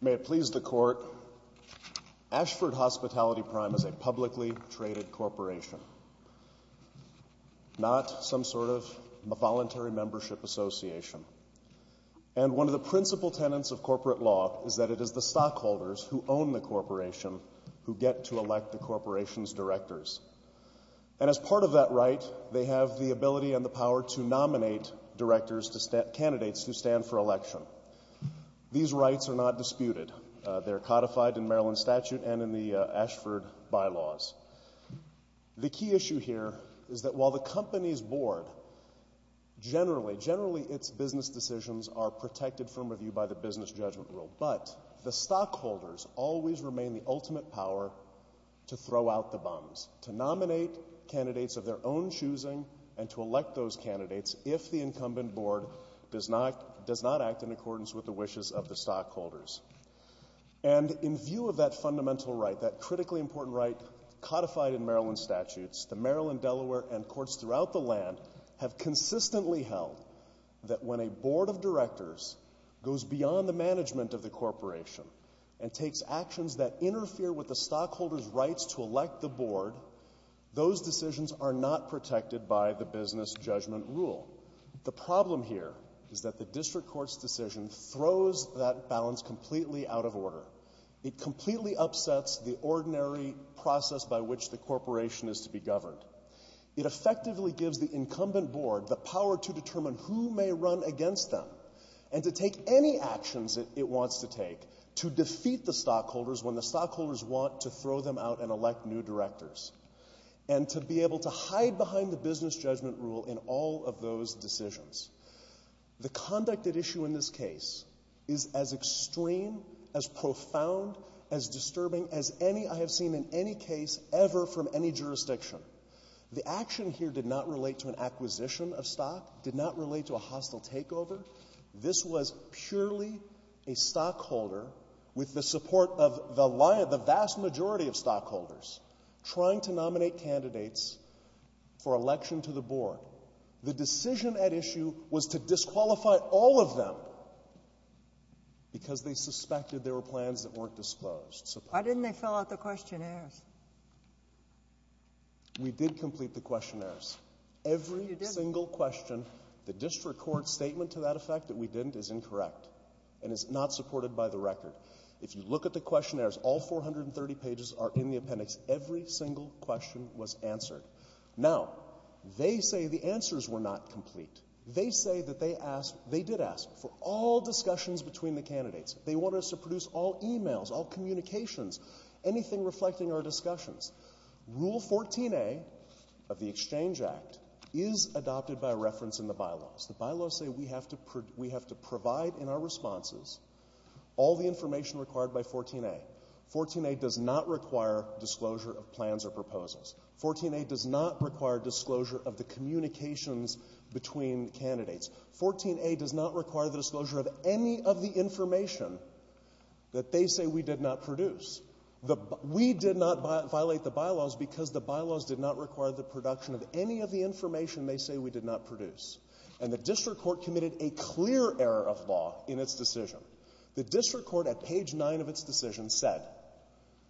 May it please the court, Ashford Hospitality Prime is a publicly traded corporation, not some sort of a voluntary membership association. And one of the principal tenets of corporate law is that it is the stockholders who own the corporation who get to elect the corporation's directors. And as part of that right, they have the ability and the power to nominate directors to stand for election. These rights are not disputed. They're codified in Maryland statute and in the Ashford bylaws. The key issue here is that while the company's board generally, generally its business decisions are protected from review by the business judgment rule, but the stockholders always remain the ultimate power to throw out the bums, to nominate candidates of their own does not act in accordance with the wishes of the stockholders. And in view of that fundamental right, that critically important right codified in Maryland statutes, the Maryland, Delaware and courts throughout the land have consistently held that when a board of directors goes beyond the management of the corporation and takes actions that interfere with the stockholders rights to elect the board, those decisions are not protected by the business judgment rule. The problem here is that the district court's decision throws that balance completely out of order. It completely upsets the ordinary process by which the corporation is to be governed. It effectively gives the incumbent board the power to determine who may run against them and to take any actions that it wants to take to defeat the stockholders when the stockholders want to throw them out and elect new directors. And to be able to hide behind the business judgment rule in all of those decisions. The conduct at issue in this case is as extreme, as profound, as disturbing as any I have seen in any case ever from any jurisdiction. The action here did not relate to an acquisition of stock, did not relate to a hostile takeover. This was purely a stockholder with the support of the vast majority of stockholders trying to nominate candidates for election to the board. The decision at issue was to disqualify all of them because they suspected there were plans that weren't disclosed. Why didn't they fill out the questionnaires? We did complete the questionnaires. Every single question, the district court statement to that effect that we didn't is incorrect and is not supported by the record. If you look at the questionnaires, all 430 pages are in the appendix. Every single question was answered. Now, they say the answers were not complete. They say that they asked, they did ask for all discussions between the candidates. They wanted us to produce all emails, all communications, anything reflecting our discussions. Rule 14a of the Exchange Act is adopted by reference in the bylaws. The bylaws say we have to provide in our responses all the information required by 14a. 14a does not require disclosure of plans or proposals. 14a does not require disclosure of the communications between candidates. 14a does not require the disclosure of any of the information that they say we did not produce. We did not violate the bylaws because the bylaws did not require the production of any of the information they say we did not produce. And the district court committed a clear error of law in its decision. The district court at page 9 of its decision said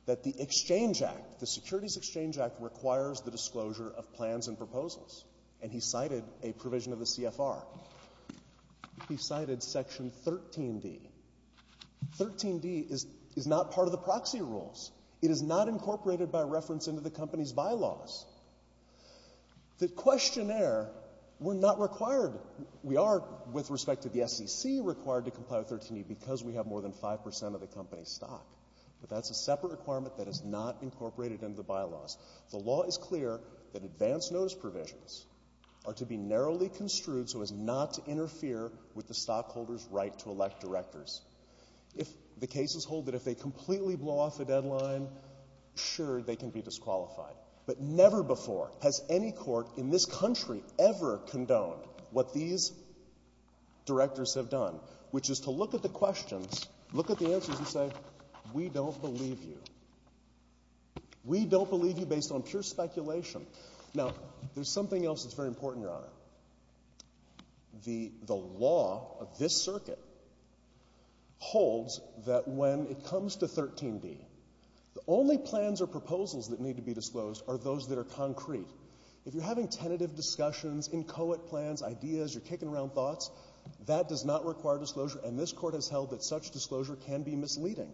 that the Exchange Act, the Securities Exchange Act, requires the disclosure of plans and proposals. And he cited a provision of the CFR. He cited section 13d. 13d is is not part of the proxy rules. It is not incorporated by reference into the company's bylaws. The questionnaire, we're not required, we are with respect to the SEC required to disqualify 5 percent of the company's stock. But that's a separate requirement that is not incorporated into the bylaws. The law is clear that advance notice provisions are to be narrowly construed so as not to interfere with the stockholder's right to elect directors. If the cases hold that if they completely blow off a deadline, sure, they can be disqualified. But never before has any court in this country ever condoned what these directors have done, which is to look at the questions look at the answers and say, we don't believe you. We don't believe you based on pure speculation. Now, there's something else that's very important, Your Honor. The the law of this circuit holds that when it comes to 13d, the only plans or proposals that need to be disclosed are those that are concrete. If you're having tentative discussions, inchoate plans, ideas, you're kicking around thoughts, that does not require disclosure. And this court has held that such disclosure can be misleading.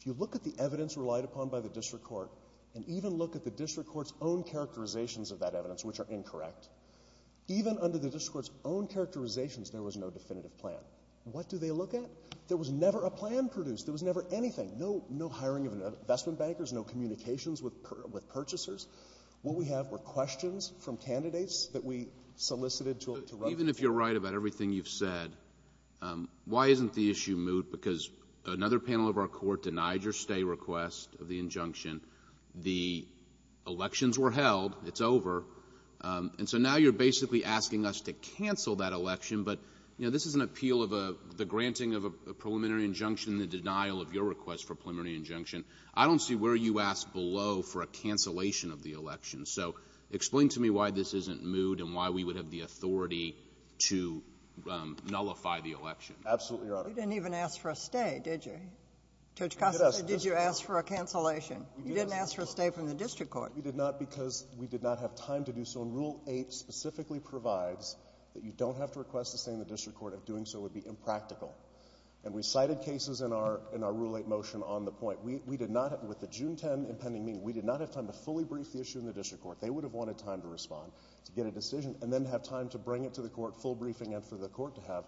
If you look at the evidence relied upon by the district court, and even look at the district court's own characterizations of that evidence, which are incorrect, even under the district court's own characterizations, there was no definitive plan. What do they look at? There was never a plan produced. There was never anything. No no hiring of investment bankers, no communications with with purchasers. What we have were questions from candidates that we solicited to even if you're right about everything you've said, why isn't the issue moot? Because another panel of our court denied your stay request of the injunction. The elections were held. It's over. And so now you're basically asking us to cancel that election. But you know, this is an appeal of a the granting of a preliminary injunction, the denial of your request for preliminary injunction. I don't see where you ask below for a cancellation of the election. So explain to me why this isn't moot and why we would have the authority to nullify the election. Absolutely, Your Honor. You didn't even ask for a stay, did you? Did you ask for a cancellation? You didn't ask for a stay from the district court. We did not because we did not have time to do so. And Rule 8 specifically provides that you don't have to request a stay in the district court. If doing so would be impractical. And we cited cases in our in our Rule 8 motion on the point. We did not, with the June 10 impending meeting, we did not have time to fully brief the issue in the district court. They would have wanted time to respond, to get a decision, and then have time to bring it to the court, full briefing, and for the court to have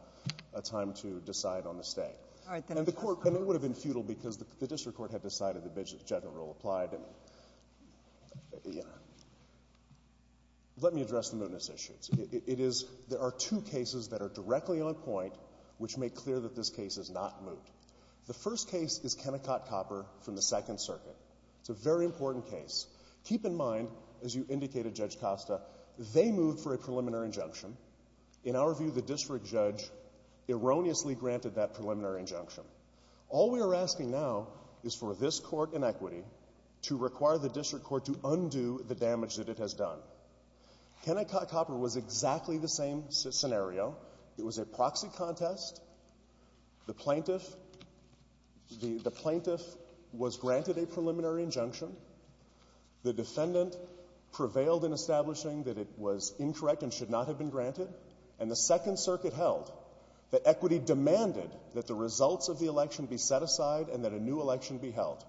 a time to decide on the stay. And the court, and it would have been futile because the district court had decided the bidding general rule applied. Let me address the mootness issues. It is, there are two cases that are directly on point which make clear that this case is not moot. The first case is Kennecott-Copper from the Second Circuit. It's a very important case. Keep in mind, as you indicated, Judge Costa, they moved for a preliminary injunction. In our view, the district judge erroneously granted that preliminary injunction. All we are asking now is for this court in equity to require the district court to undo the damage that it has done. Kennecott-Copper was exactly the same scenario. It was a proxy contest. The plaintiff, the plaintiff was independent, prevailed in establishing that it was incorrect and should not have been granted. And the Second Circuit held that equity demanded that the results of the election be set aside and that a new election be held.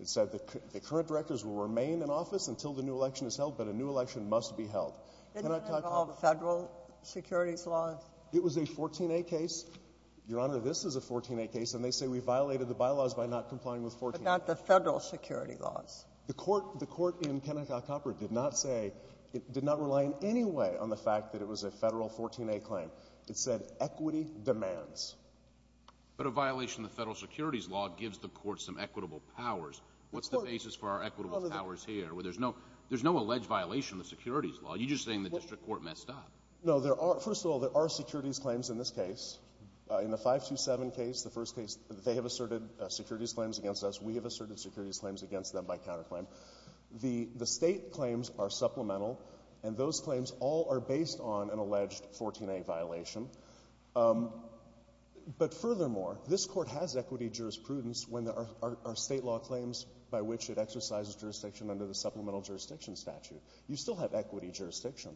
It said that the current directors will remain in office until the new election is held, but a new JUSTICE GINSBURG-MURPHY Didn't it involve federal securities laws? It was a 14a case. Your Honor, this is a 14a case, and they say we violated the bylaws by not complying with 14a. But not the federal security laws. The court, the court in Kennecott-Copper did not say, did not rely in any way on the fact that it was a federal 14a claim. It said equity demands. But a violation of the federal securities law gives the court some equitable powers. What's the basis for our equitable powers here where there's no, there's no alleged violation of the securities law. You're just saying the district court messed up. No, there are, first of all, there are securities claims in this case. In the 527 case, the first case, they have asserted securities claims against us. We have The state claims are supplemental, and those claims all are based on an alleged 14a violation. But furthermore, this court has equity jurisprudence when there are state law claims by which it exercises jurisdiction under the supplemental jurisdiction statute. You still have equity jurisdiction.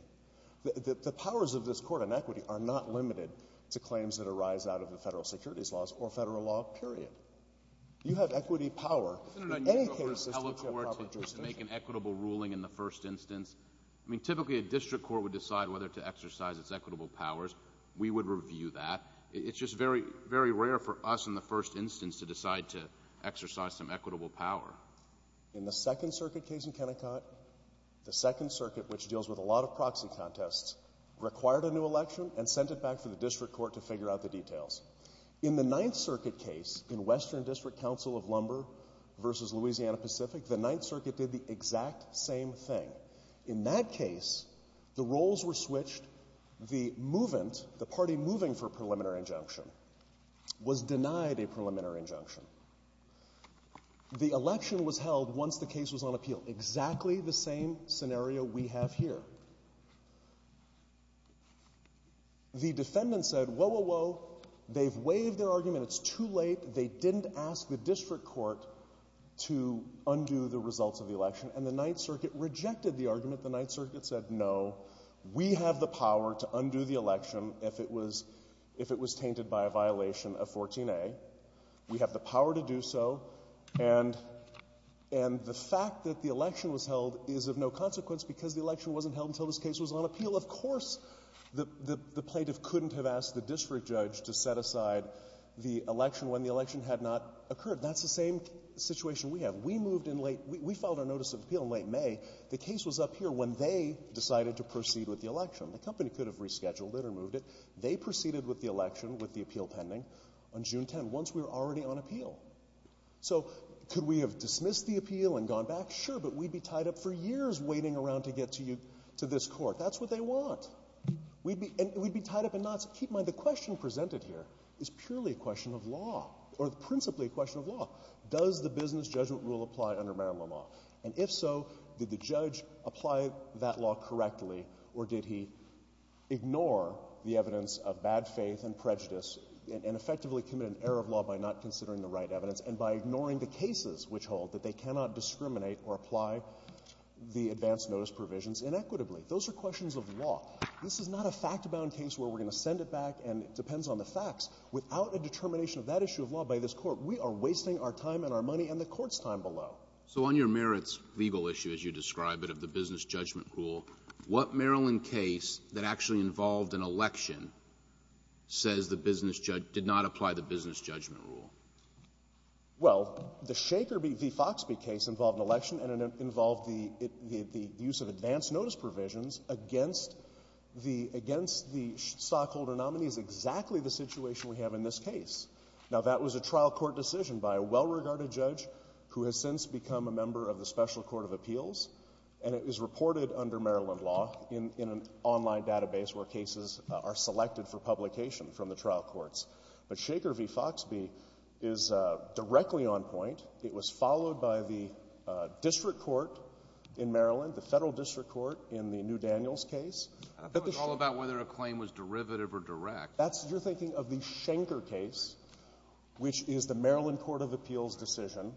The powers of this court on equity are not limited to claims that arise out of the federal securities laws or federal law, period. You have equity power. You don't need a federal court to make an equitable ruling in the first instance. I mean, typically, a district court would decide whether to exercise its equitable powers. We would review that. It's just very, very rare for us in the first instance to decide to exercise some equitable power. In the Second Circuit case in Kennecott, the Second Circuit, which deals with a lot of proxy contests, required a new election and sent it back to the district court to figure out the details. In the Ninth Circuit case in Western District Council of Lumber versus Louisiana Pacific, the Ninth Circuit did the exact same thing. In that case, the roles were switched. The movant, the party moving for a preliminary injunction, was denied a preliminary injunction. The election was held once the case was on appeal, exactly the same scenario we have here. The defendant said, whoa, whoa, whoa, they've waived their argument, it's too late. They didn't ask the district court to undo the results of the election. And the Ninth Circuit rejected the argument. The Ninth Circuit said, no, we have the power to undo the election if it was tainted by a violation of 14A. We have the power to do so. And the fact that the election was held is of no consequence because the election wasn't held until this case was on appeal. Of course the plaintiff couldn't have asked the district judge to set aside the election had not occurred. That's the same situation we have. We filed our notice of appeal in late May. The case was up here when they decided to proceed with the election. The company could have rescheduled it or moved it. They proceeded with the election, with the appeal pending, on June 10, once we were already on appeal. So could we have dismissed the appeal and gone back? Sure, but we'd be tied up for years waiting around to get to this court. That's what they want. And we'd be tied up in knots. Keep in mind, the question presented here is purely a question of law, or principally a question of law. Does the business judgment rule apply under Maryland law? And if so, did the judge apply that law correctly, or did he ignore the evidence of bad faith and prejudice and effectively commit an error of law by not considering the right evidence, and by ignoring the cases which hold that they cannot discriminate or apply the advance notice provisions inequitably? Those are questions of law. This is not a fact-bound case where we're going to send it back and it depends on the facts. Without a determination of that issue of law by this Court, we are wasting our time and our money and the Court's time below. So on your merits legal issue, as you describe it, of the business judgment rule, what Maryland case that actually involved an election says the business judge did not apply the business judgment rule? Well, the Shaker v. Foxbee case involved an election and it involved the use of the business judgment rule against the stockholder nominee is exactly the situation we have in this case. Now, that was a trial court decision by a well-regarded judge who has since become a member of the Special Court of Appeals, and it was reported under Maryland law in an online database where cases are selected for publication from the trial courts. But Shaker v. Foxbee is directly on point. It was followed by the district court in Maryland, the Shaker case, which is the Maryland Court of Appeals decision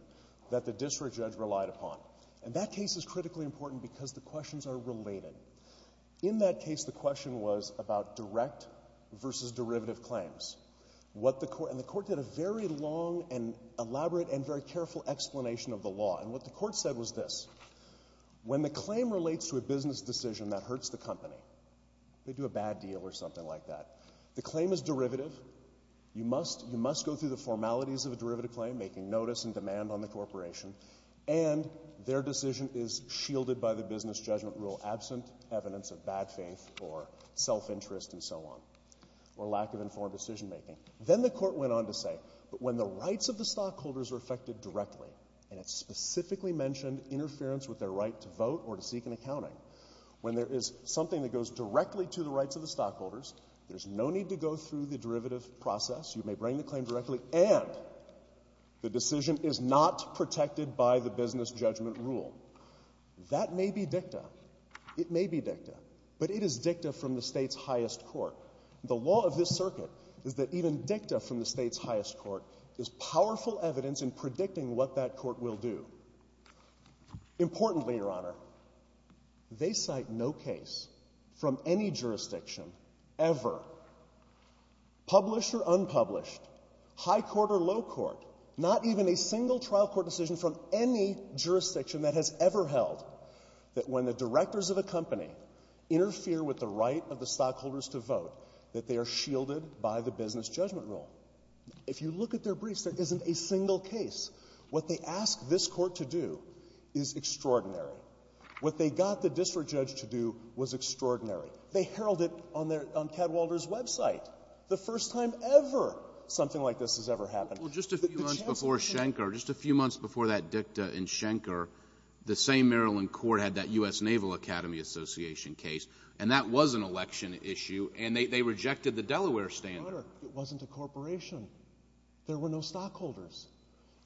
that the district judge relied upon. And that case is critically important because the questions are related. In that case, the question was about direct versus derivative claims. And the Court did a very long and elaborate and very careful explanation of the law. And what the Court said was this. When the claim is derivative, they do a bad deal or something like that. The claim is derivative. You must go through the formalities of a derivative claim, making notice and demand on the corporation, and their decision is shielded by the business judgment rule, absent evidence of bad faith or self-interest and so on, or lack of informed decision-making. Then the Court went on to say, but when the rights of the stockholders are affected directly, and it specifically mentioned interference with their right to vote or to seek an accounting, when there is something that goes directly to the rights of the stockholders, there's no need to go through the derivative process. You may bring the claim directly, and the decision is not protected by the business judgment rule. That may be dicta. It may be dicta. But it is dicta from the state's highest court. The law of this circuit is that even dicta from the state's highest court is powerful evidence in predicting what that court will do. Importantly, Your Honor, they cite no case from any jurisdiction ever, published or unpublished, high court or low court, not even a single trial court decision from any jurisdiction that has ever held that when the directors of a company interfere with the right of the stockholders to vote, that they are shielded by the business judgment rule. If you look at their briefs, there isn't a single case. What they asked this court to do is extraordinary. What they got the district judge to do was extraordinary. They heralded it on their, on Cadwalder's website. The first time ever something like this has ever happened. Well, just a few months before Schenker, just a few months before that dicta in Schenker, the same Maryland court had that U.S. Naval Academy Association case, and that was an election issue, and they rejected the Delaware standard. Your Honor, it wasn't a corporation. There were no stockholders.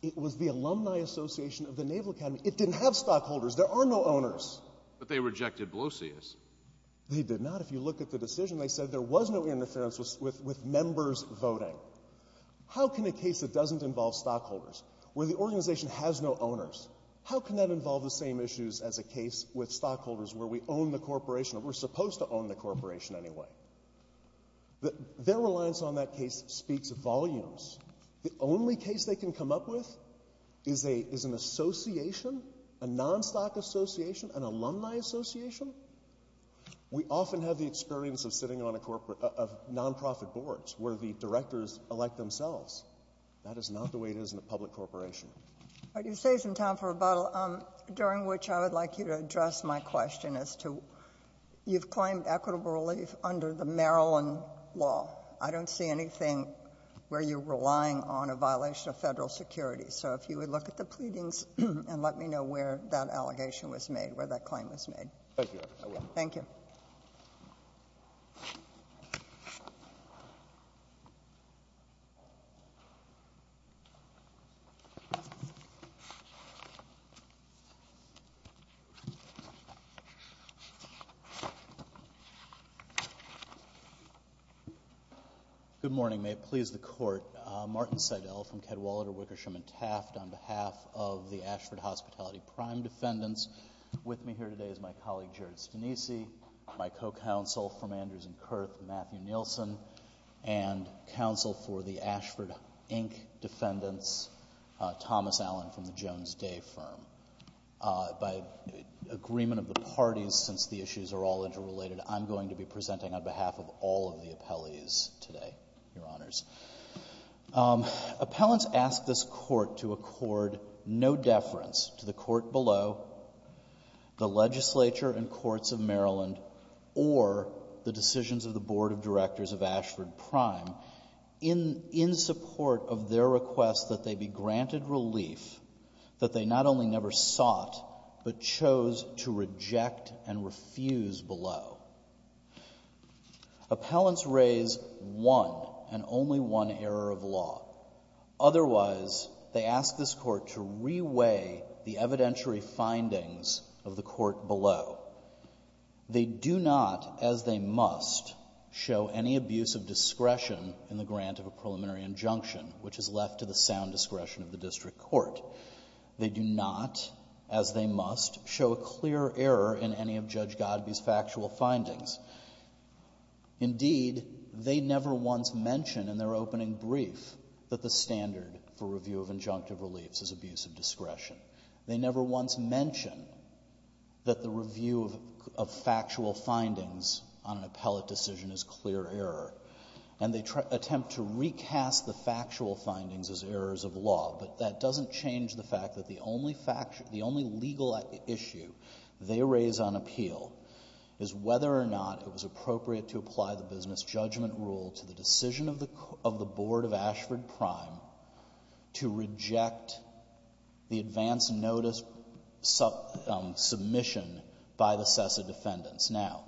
It was the Alumni Association of the Naval Academy. It didn't have stockholders. There are no owners. But they rejected Blosius. They did not. If you look at the decision, they said there was no interference with members voting. How can a case that doesn't involve stockholders, where the organization has no owners, how can that involve the same issues as a case with stockholders where we own the corporation, or we're supposed to own the corporation anyway? Their reliance on that case speaks volumes. The only case they can come up with is an association, a non-stock association, an alumni association? We often have the experience of sitting on a corporate, of non-profit boards where the directors elect themselves. That is not the way it is in a public corporation. All right. You saved some time for rebuttal, during which I would like you to address my question as to you've claimed equitable relief under the Maryland law. I don't see anything where you're relying on a violation of federal security. So if you would look at the pleadings and let me know where that allegation was made, where that claim was made. Thank you, Your Honor. Thank you. Good morning. May it please the Court. Martin Seidel from Kedwalader, Wickersham and Taft on behalf of the Ashford Hospitality Prime Defendants. With me here today is my colleague Jared Stanise, my co-counsel from Andrews and Kurth, Matthew Nielsen, and counsel for the Ashford, Inc. Defendants, Thomas Allen from the Jones Day Firm. By agreement of the parties, since the issues are all interrelated, I'm going to be presenting on behalf of all of the appellees today, Your Honors. Appellants ask this Court to accord no deference to the Court below, the legislature and courts of Maryland, or the decisions of the Board of Directors of Ashford Prime, in support of their request that they be granted relief that they not only never sought but chose to reject and refuse below. Appellants raise one and only one error of law. Otherwise, they ask this Court to reweigh the evidentiary findings of the Court below. They do not, as they must, show any abuse of discretion in the grant of a preliminary injunction, which is left to the sound discretion of the district court. They do not, as they must, show a clear error in any of Judge Godbee's factual findings. Indeed, they never once mention in their opening brief that the standard for review of injunctive reliefs is abuse of discretion. They never once mention that the review of factual findings on an appellate decision is clear error. And they attempt to recast the factual findings as errors of law. But that doesn't change the fact that the only legal issue they raise on appeal is whether or not it was appropriate to apply the business judgment rule to the decision of the Board of Ashford Prime to reject the advance notice submission by the SESA defendants. Now,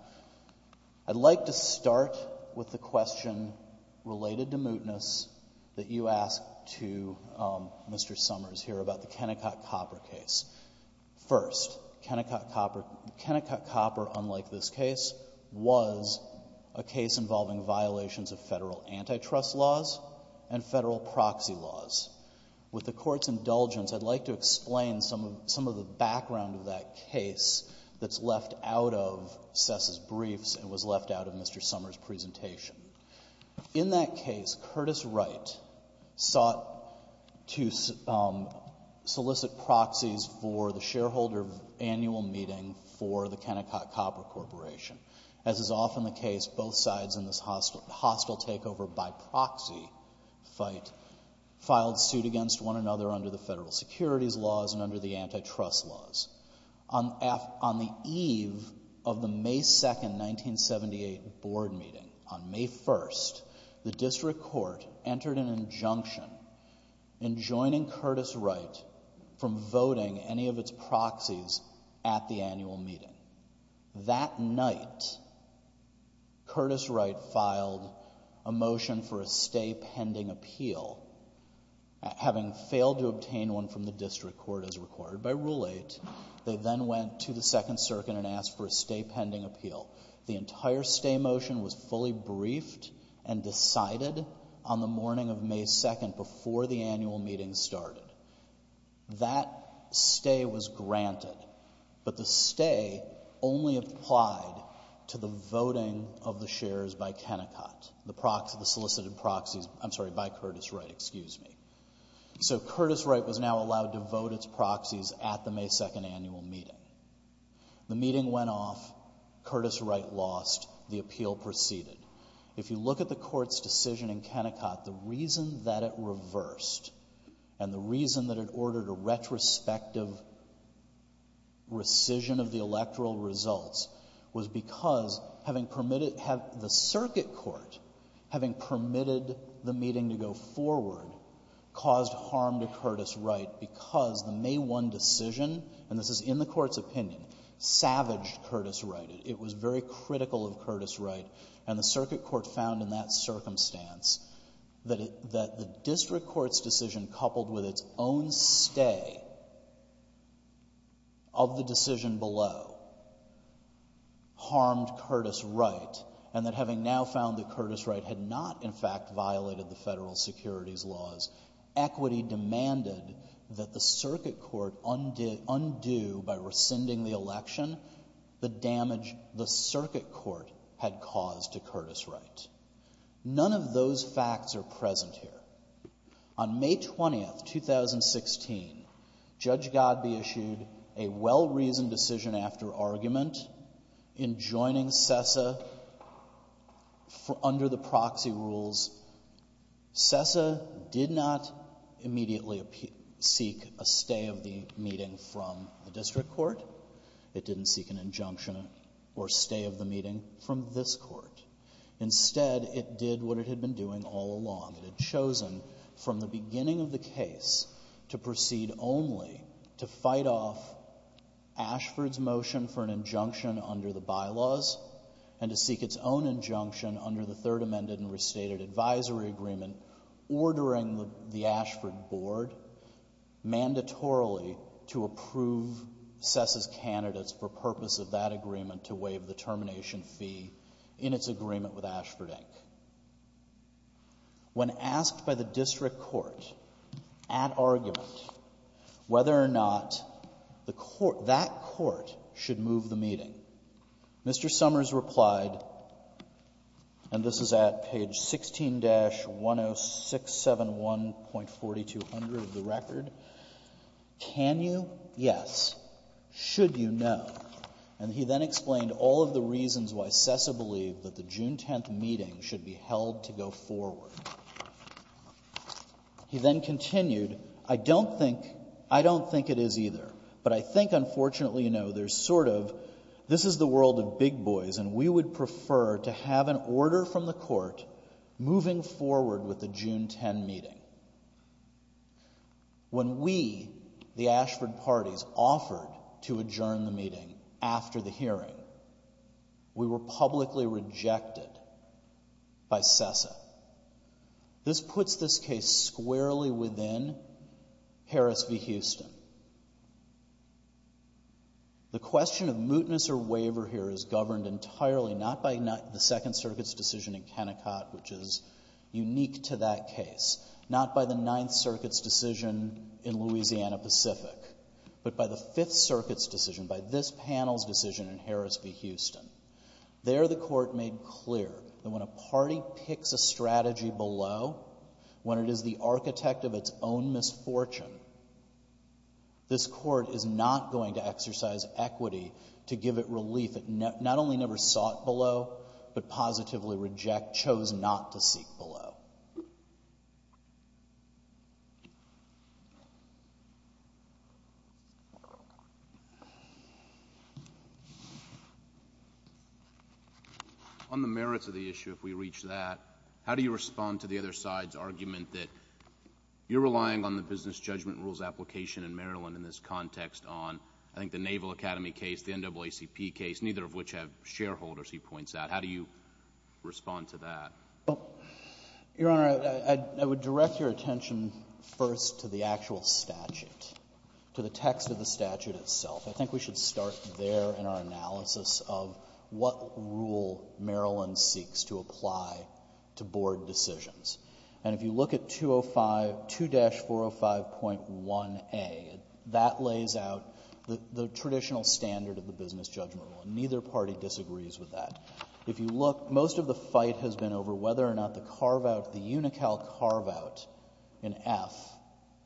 I'd like to start with the question related to mootness that you asked to Mr. Summers here about the Kennecott-Copper case. First, Kennecott-Copper, unlike this case, was a case involving violations of Federal antitrust laws and Federal proxy laws. With the Court's indulgence, I'd like to explain some of the background of that case that's left out of SESA's briefs and was left out of Mr. Summers' presentation. In that case, Curtis Wright sought to solicit proxies for the shareholder annual meeting for the Kennecott-Copper Corporation. As is often the case, both sides in this hostile takeover by proxy fight filed suit against one another under the Federal securities laws and under the antitrust laws. On the eve of the May 2, 1978, Board meeting, on May 1, the District Court entered an injunction enjoining Curtis Wright from voting any of its proxies at the annual meeting. That night, Curtis Wright filed a motion for a stay pending appeal, having failed to obtain one from the District Court as required by Rule 8. They then went to the Second Circuit and asked for a stay pending appeal. The entire stay motion was fully briefed and That stay was granted, but the stay only applied to the voting of the shares by Kennecott, the solicited proxies, I'm sorry, by Curtis Wright, excuse me. So Curtis Wright was now allowed to vote its proxies at the May 2nd annual meeting. The meeting went off, Curtis Wright lost, the appeal proceeded. If you look at the Court's decision in Kennecott, the reason that it reversed and the reason that it ordered a retrospective rescission of the electoral results was because having permitted the circuit court, having permitted the meeting to go forward, caused harm to Curtis Wright because the May 1 decision, and this is in the Court's opinion, savaged Curtis Wright. It was very critical of Curtis Wright, and the circuit court's decision coupled with its own stay of the decision below harmed Curtis Wright, and that having now found that Curtis Wright had not in fact violated the federal securities laws, equity demanded that the circuit court undo by rescinding the election the damage the circuit court had caused to Curtis Wright. None of those facts are present here. On May 20th, 2016, Judge Godbee issued a well-reasoned decision after argument in joining CESA under the proxy rules. CESA did not immediately seek a stay of the meeting from the district court. It didn't seek an injunction or stay of the meeting from this court. Instead, it did what it had been doing all along. It had chosen from the beginning of the case to proceed only to fight off Ashford's motion for an injunction under the bylaws and to seek its own injunction under the Third Amended and Restated Advisory Agreement, ordering the Ashford board mandatorily to approve CESA's candidates for purpose of that agreement to waive the termination fee in its agreement with Ashford, Inc. When asked by the district court at argument whether or not the court, that court should move the meeting, Mr. Summers replied And this is at page 16-10671.4200 of the record. Can you? Yes. Should you? No. And he then explained all of the reasons why CESA believed that the June 10th meeting should be held to go forward. He then continued, I don't think, I don't think it is either. But I think, unfortunately, you know, there's sort of, this is the world of big boys and we would prefer to have an order from the court moving forward with the June 10th meeting. When we, the Ashford parties, offered to adjourn the meeting after the hearing, we were publicly rejected by CESA. This puts this case squarely within Harris v. Houston. The question of mootness or waiver here is governed entirely, not by the Second Circuit's decision in Kennecott, which is unique to that case, not by the Ninth Circuit's decision in Louisiana Pacific, but by the Fifth Circuit's decision, by this panel's decision in Harris v. Houston. There the court made clear that when a party picks a strategy sought below, when it is the architect of its own misfortune, this court is not going to exercise equity to give it relief. It not only never sought below, but positively reject, chose not to seek below. On the merits of the issue, if we reach that, how do you respond to the other side's argument that you're relying on the business judgment rules application in Maryland in this context on, I think, the Naval Academy case, the NAACP case, neither of which have shareholders, he points out. How do you respond to that? Well, Your Honor, I would direct your attention first to the actual statute, to the text of the statute itself. I think we should start there in our analysis of what rule Maryland seeks to apply to board decisions. And if you look at 205, 2-405.1a, that lays out the rule, and neither party disagrees with that. If you look, most of the fight has been over whether or not the carve-out, the UNICAL carve-out in F,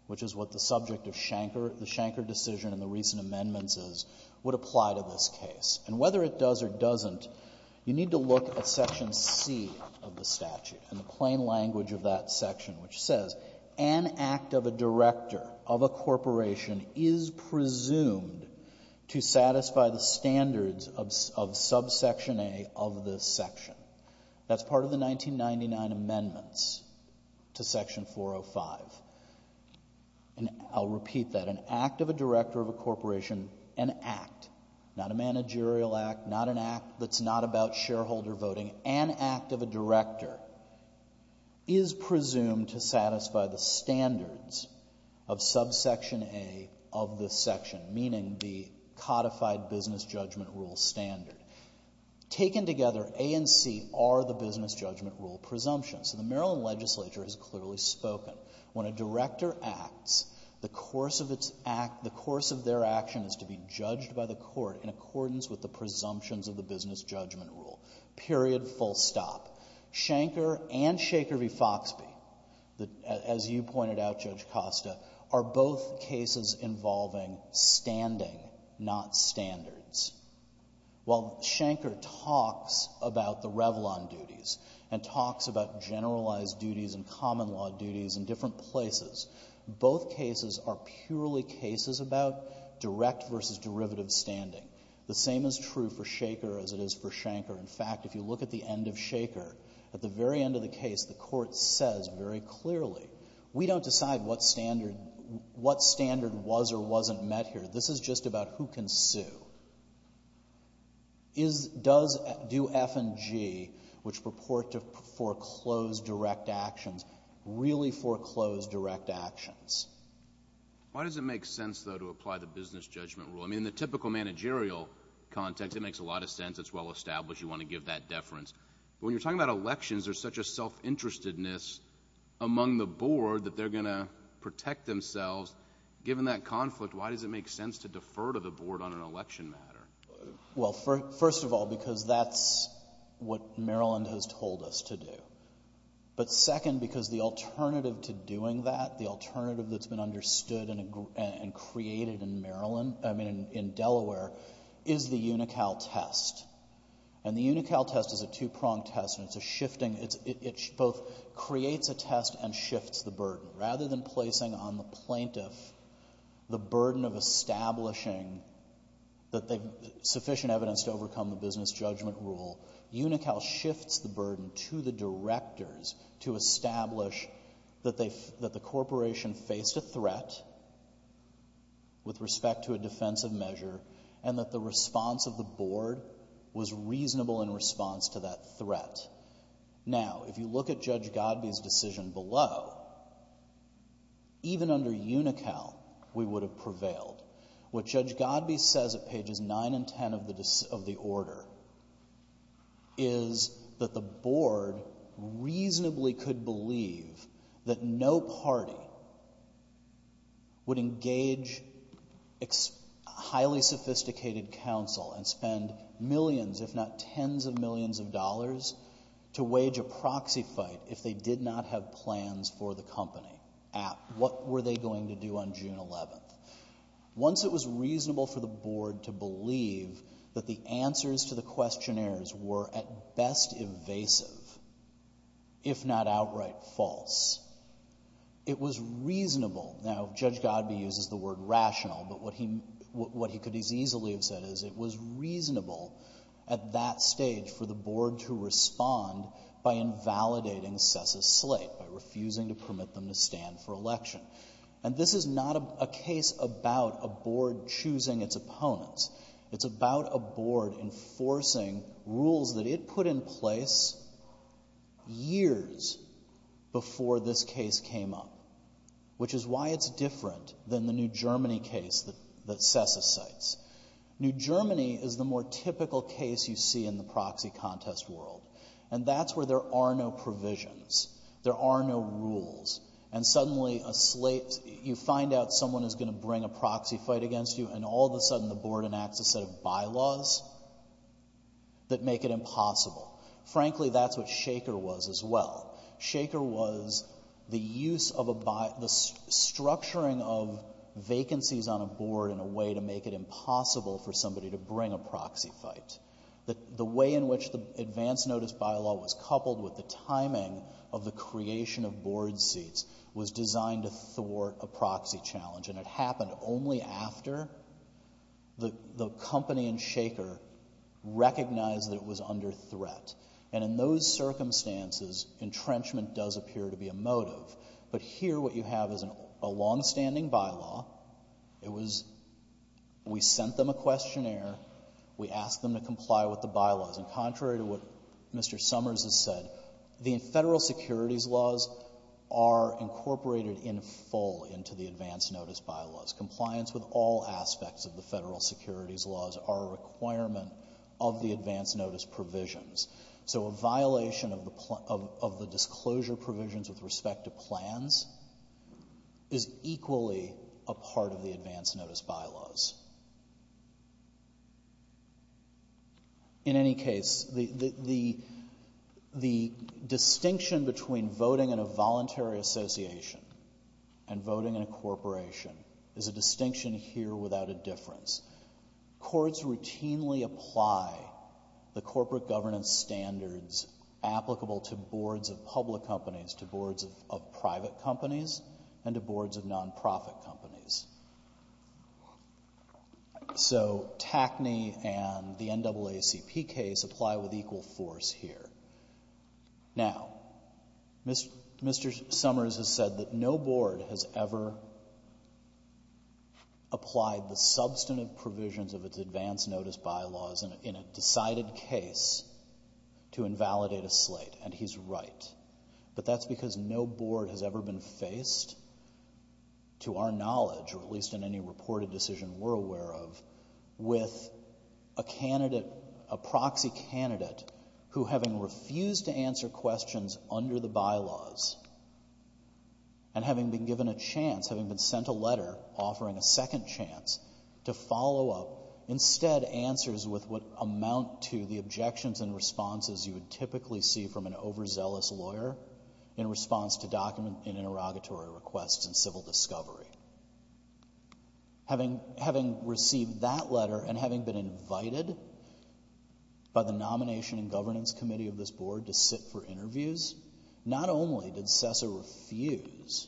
which is what the subject of Schenker, the Schenker decision and the recent amendments is, would apply to this case. And whether it does or doesn't, you need to look at section C of the statute and the plain language of that section, which says an act of a director of a corporation is presumed to satisfy the standards of subsection A of this section. That's part of the 1999 amendments to section 405. And I'll repeat that. An act of a director of a corporation, an act, not a managerial act, not an act that's not about shareholder voting, an act of a section, meaning the codified business judgment rule standard. Taken together, A and C are the business judgment rule presumptions. The Maryland legislature has clearly spoken. When a director acts, the course of their action is to be judged by the court in accordance with the presumptions of the business judgment rule, period, full stop. Schenker and Shaker v. Foxbee, as you pointed out, Judge Costa, are both cases involving standing, not standards. While Schenker talks about the Revlon duties and talks about generalized duties and common law duties in different places, both cases are purely cases about direct versus derivative standing. The same is true for Shaker as it is for Schenker. In fact, if you look at the standard, at the very end of the case, the court says very clearly, we don't decide what standard, what standard was or wasn't met here. This is just about who can sue. Is, does, do F and G, which purport to foreclose direct actions, really foreclose direct actions? Why does it make sense, though, to apply the business judgment rule? I mean, in the typical managerial context, it makes a lot of sense. It's well established. You want to give that deference. But when you're talking about elections, there's such a self-interestedness among the board that they're going to protect themselves. Given that conflict, why does it make sense to defer to the board on an election matter? Well, first of all, because that's what Maryland has told us to do. But second, because the alternative to doing that, the alternative that's been understood and created in Maryland, I mean, in Delaware, is the UNICAL test. And the UNICAL test is a two-pronged test, and it's a shifting, it both creates a test and shifts the burden. Rather than placing on the plaintiff the burden of establishing that they, sufficient evidence to overcome the business judgment rule, UNICAL shifts the burden to the directors to establish that the corporation faced a threat with respect to a defensive measure and that the response of the board was reasonable in response to that threat. Now, if you look at Judge Godby's decision below, even under UNICAL, we would have prevailed. What Judge Godby says at pages 9 and 10 of the order is that the board reasonably could believe that no party would engage highly sophisticated counsel and spend millions, if not tens of millions of dollars, to wage a proxy fight if they did not have plans for the company. What were they going to do on June 11th? Once it was reasonable for the It was reasonable. Now, Judge Godby uses the word rational, but what he could as easily have said is it was reasonable at that stage for the board to respond by invalidating SES's slate, by refusing to permit them to stand for election. And this is not a case about a board choosing its opponents. It's about a board enforcing rules that it put in place years before this case came up, which is why it's different than the New Germany case that SES cites. New Germany is the more typical case you see in the proxy contest world, and that's where there are no provisions. There are no rules. And suddenly a slate, you find out someone is going to bring a proxy fight against you, and all of a sudden the board enacts a set of bylaws that make it impossible. Frankly, that's what Shaker was as well. Shaker was the use of a, the structuring of vacancies on a board in a way to make it impossible for somebody to bring a proxy fight. The way in which the advance notice bylaw was coupled with the timing of the creation of board seats was designed to thwart a proxy challenge, and it happened only after the company in Shaker recognized that it was under threat. And in those circumstances, entrenchment does appear to be a motive. But here what you have is a longstanding bylaw. It was, we sent them a questionnaire. We asked them to comply with the bylaws. And contrary to what Mr. Summers has said, the federal securities laws are incorporated in full into the advance notice bylaws. Compliance with all aspects of the federal securities laws are a requirement of the advance notice provisions. So a violation of the disclosure provisions with respect to plans is equally a part of the advance notice. Voting in a voluntary association and voting in a corporation is a distinction here without a difference. Courts routinely apply the corporate governance standards applicable to boards of public companies, to boards of private companies, and to boards of nonprofit companies. So TACNY and the NAACP case apply with equal force here. Now, Mr. Summers has said that no board has ever applied the substantive provisions of its advance notice bylaws in a decided case to invalidate a slate, and he's right. But that's because no board has ever been faced, to our knowledge, or at least in any reported decision we're aware of, with a candidate, a proxy candidate, who having refused to answer questions under the bylaws, and having been given a chance, having been sent a letter offering a second chance to follow up, instead answers with what amount to the objections and responses you would typically see from an overzealous lawyer in response to document and interrogatory requests and civil discovery. Having received that letter and having been invited by the nomination and governance committee of this board to sit for interviews, not only did CESA refuse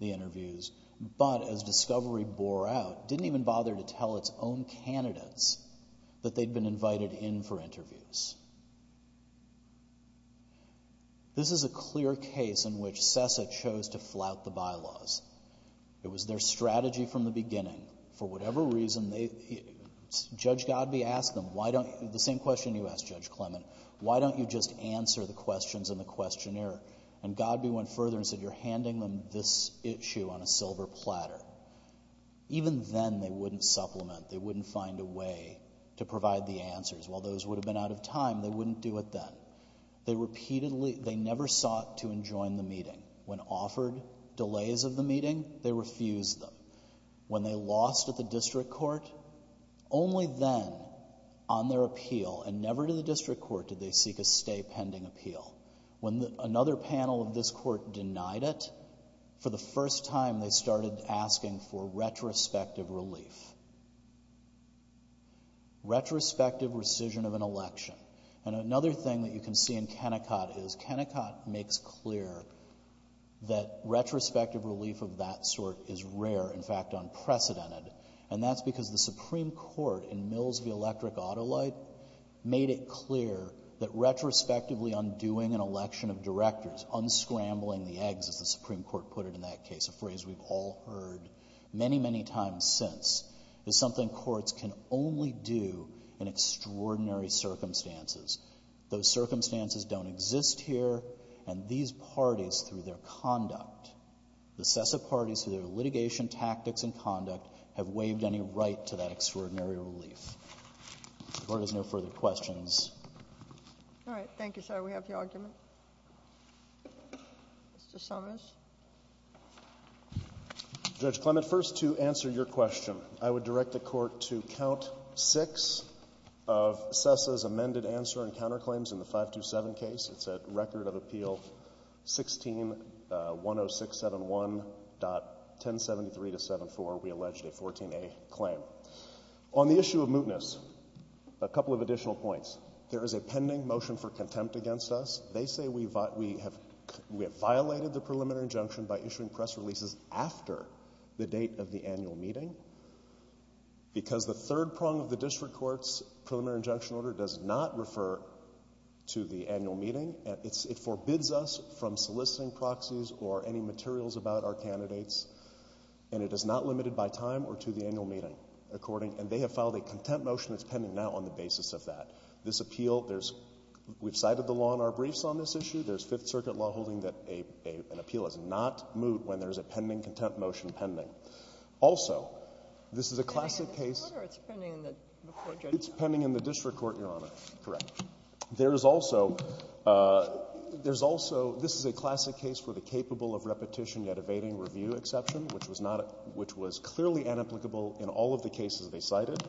the interviews, but as discovery bore out, didn't even bother to tell its own This is a clear case in which CESA chose to flout the bylaws. It was their strategy from the beginning. For whatever reason, Judge Godby asked them, the same question you asked Judge Clement, why don't you just answer the questions in the questionnaire? And Godby went further and said, you're handing them this issue on a silver platter. Even then they wouldn't supplement. They wouldn't find a way to provide the answers. While those would have been out of time, they wouldn't do it then. They repeatedly, they never sought to enjoin the meeting. When offered delays of the meeting, they refused them. When they lost at the district court, only then on their appeal, and never to the district court, did they seek a stay pending appeal. When another panel of this court denied it, for the first time they started asking for retrospective relief. Retrospective rescission of an election. And another thing that you can see in Kennecott is, Kennecott makes clear that retrospective relief of that sort is rare, in fact unprecedented. And that's because the Supreme Court in Mills v. Electric Autolite made it clear that retrospectively undoing an election of directors, unscrambling the eggs, as the Supreme Court put it in that case, a phrase we've all heard many, many times since, is something courts can only do in extraordinary circumstances. Those circumstances don't exist here, and these parties through their conduct, the SESA parties through their litigation tactics and conduct, have waived any right to that extraordinary relief. The Court has no further questions. All right. Thank you, sir. We have the argument. Mr. Summers. Judge Clement, first, to answer your question, I would direct the Court to count six of SESA's amended answer and counterclaims in the 527 case. It's at Record of Appeal 1610671.1073-74. We alleged a 14A claim. On the issue of mootness, a couple of additional points. There is a pending motion for contempt against us. They say we have violated the preliminary injunction by issuing press releases after the date of the annual meeting, because the third prong of the district court's preliminary injunction order does not refer to the annual meeting. It forbids us from soliciting proxies or any materials about our candidates, and it does not limit it by time or to the annual meeting, according, and they have filed a contempt motion that's pending now on the basis of that. This appeal, there's, we've cited the law in our briefs on this issue. There's Fifth Circuit law holding that an appeal is not moot when there's a pending contempt motion pending. Also, this is a classic case. It's pending in the district court, Your Honor. Correct. There is also, there's also, this is a classic case for the capable of repetition yet evading review exception, which was not, which was clearly inapplicable in all of the cases they cited,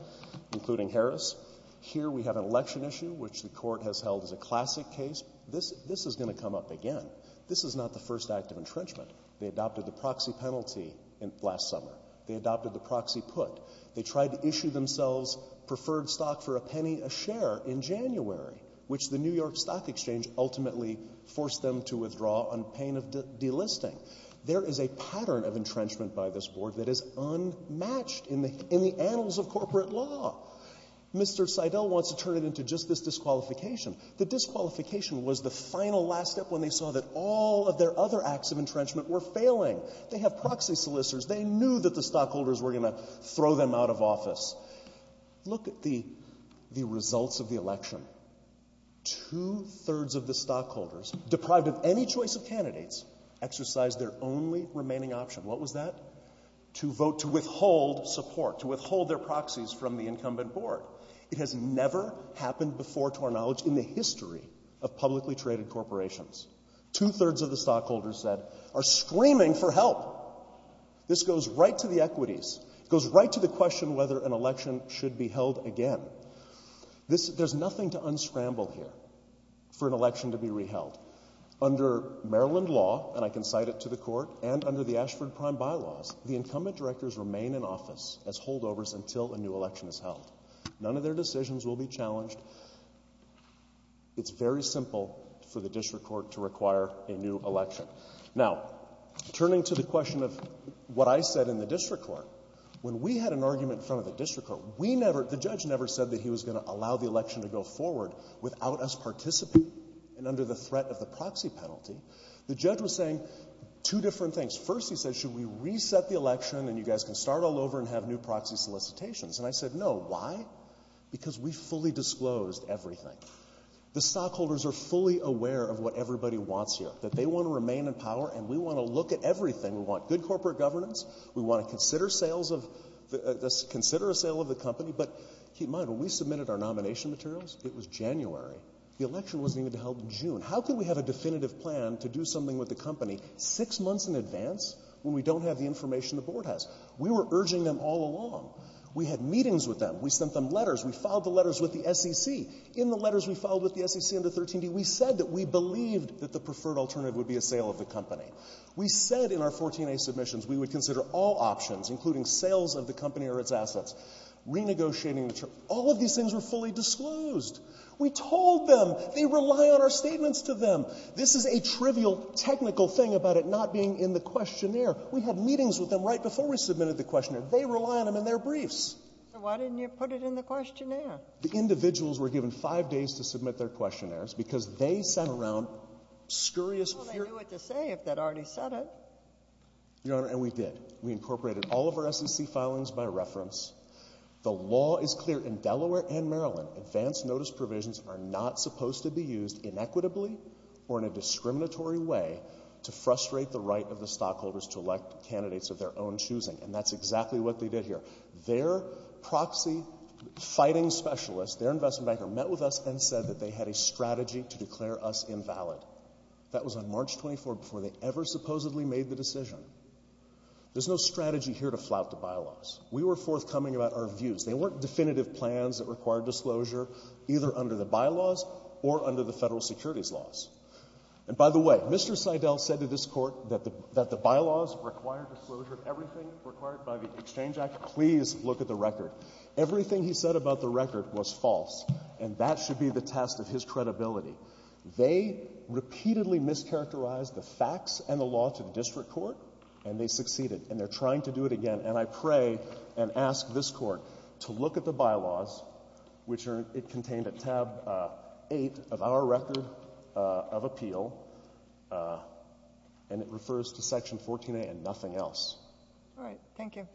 including Harris. Here we have an election issue which the court has held as a classic case. This, this is going to come up again. This is not the first act of entrenchment. They adopted the proxy penalty last summer. They adopted the proxy put. They tried to issue themselves preferred stock for a penny a share in January, which the New York Stock Exchange ultimately forced them to withdraw on pain of delisting. There is a pattern of entrenchment by this Board that is unmatched in the, in the annals of corporate law. Mr. Seidel wants to turn it into just this disqualification. The disqualification was the final last step when they saw that all of their other acts of entrenchment were failing. They have proxy solicitors. They knew that the stockholders were going to throw them out of office. Look at the, the results of the election. Two-thirds of the stockholders, deprived of any choice of candidates, exercised their only remaining option. What was that? To vote to withhold support, to withhold their proxies from the incumbent Board. It has never happened before to our knowledge in the history of publicly traded corporations. Two-thirds of the stockholders said, are screaming for help. This goes right to the equities. It goes right to the question whether an election should be held again. This, there's nothing to unscramble here for an election to be re-held. Under Maryland law, and I can cite it to the court, and under the Ashford Prime bylaws, the incumbent directors remain in office as holdovers until a new election is held. None of their decisions will be challenged. It's very simple for I said in the district court, when we had an argument in front of the district court, we never, the judge never said that he was going to allow the election to go forward without us participating and under the threat of the proxy penalty. The judge was saying two different things. First, he said, should we reset the election and you guys can start all over and have new proxy solicitations? And I said, no. Why? Because we fully disclosed everything. The stockholders are fully aware of what everybody wants here, that they want to remain in power and we want to look at everything. We want good corporate governance. We want to consider sales of, consider a sale of the company. But keep in mind, when we submitted our nomination materials, it was January. The election wasn't even held in June. How can we have a definitive plan to do something with the company six months in advance when we don't have the information the board has? We were urging them all along. We had meetings with them. We sent them letters. We filed the letters with the SEC. In the letters we filed with the SEC under 13D, we said that we believed that the preferred alternative would be a sale of the company. We said in our 14A submissions we would consider all options, including sales of the company or its assets, renegotiating the terms. All of these things were fully disclosed. We told them. They rely on our statements to them. This is a trivial technical thing about it not being in the questionnaire. We had meetings with them right before we submitted the questionnaire. They rely on them in their briefs. So why didn't you put it in the questionnaire? The individuals were given five days to submit their questionnaires because they sat around scurrious fear. Well, they knew what to say if they'd already said it. Your Honor, and we did. We incorporated all of our SEC filings by reference. The law is clear in Delaware and Maryland. Advanced notice provisions are not supposed to be used inequitably or in a discriminatory way to frustrate the right of the stockholders to elect candidates of their own choosing. And that's exactly what they did here. Their proxy fighting specialist, their investment banker, met with us and said that they had a strategy to declare us invalid. That was on March 24th before they ever supposedly made the decision. There's no strategy here to flout the bylaws. We were forthcoming about our views. They weren't definitive plans that required disclosure either under the bylaws or under the federal securities laws. And by the way, Mr. Seidel said to this Court that the bylaws required disclosure of everything required by the Exchange Act. Please look at the record. Everything he said about the record was false. And that should be the test of his credibility. They repeatedly mischaracterized the facts and the law to the district court, and they succeeded. And they're trying to do it again. And I pray and ask this Court to look at the bylaws, which are contained at tab 8 of our record of appeal, and it refers to Section 14a and nothing else. All right. Thank you.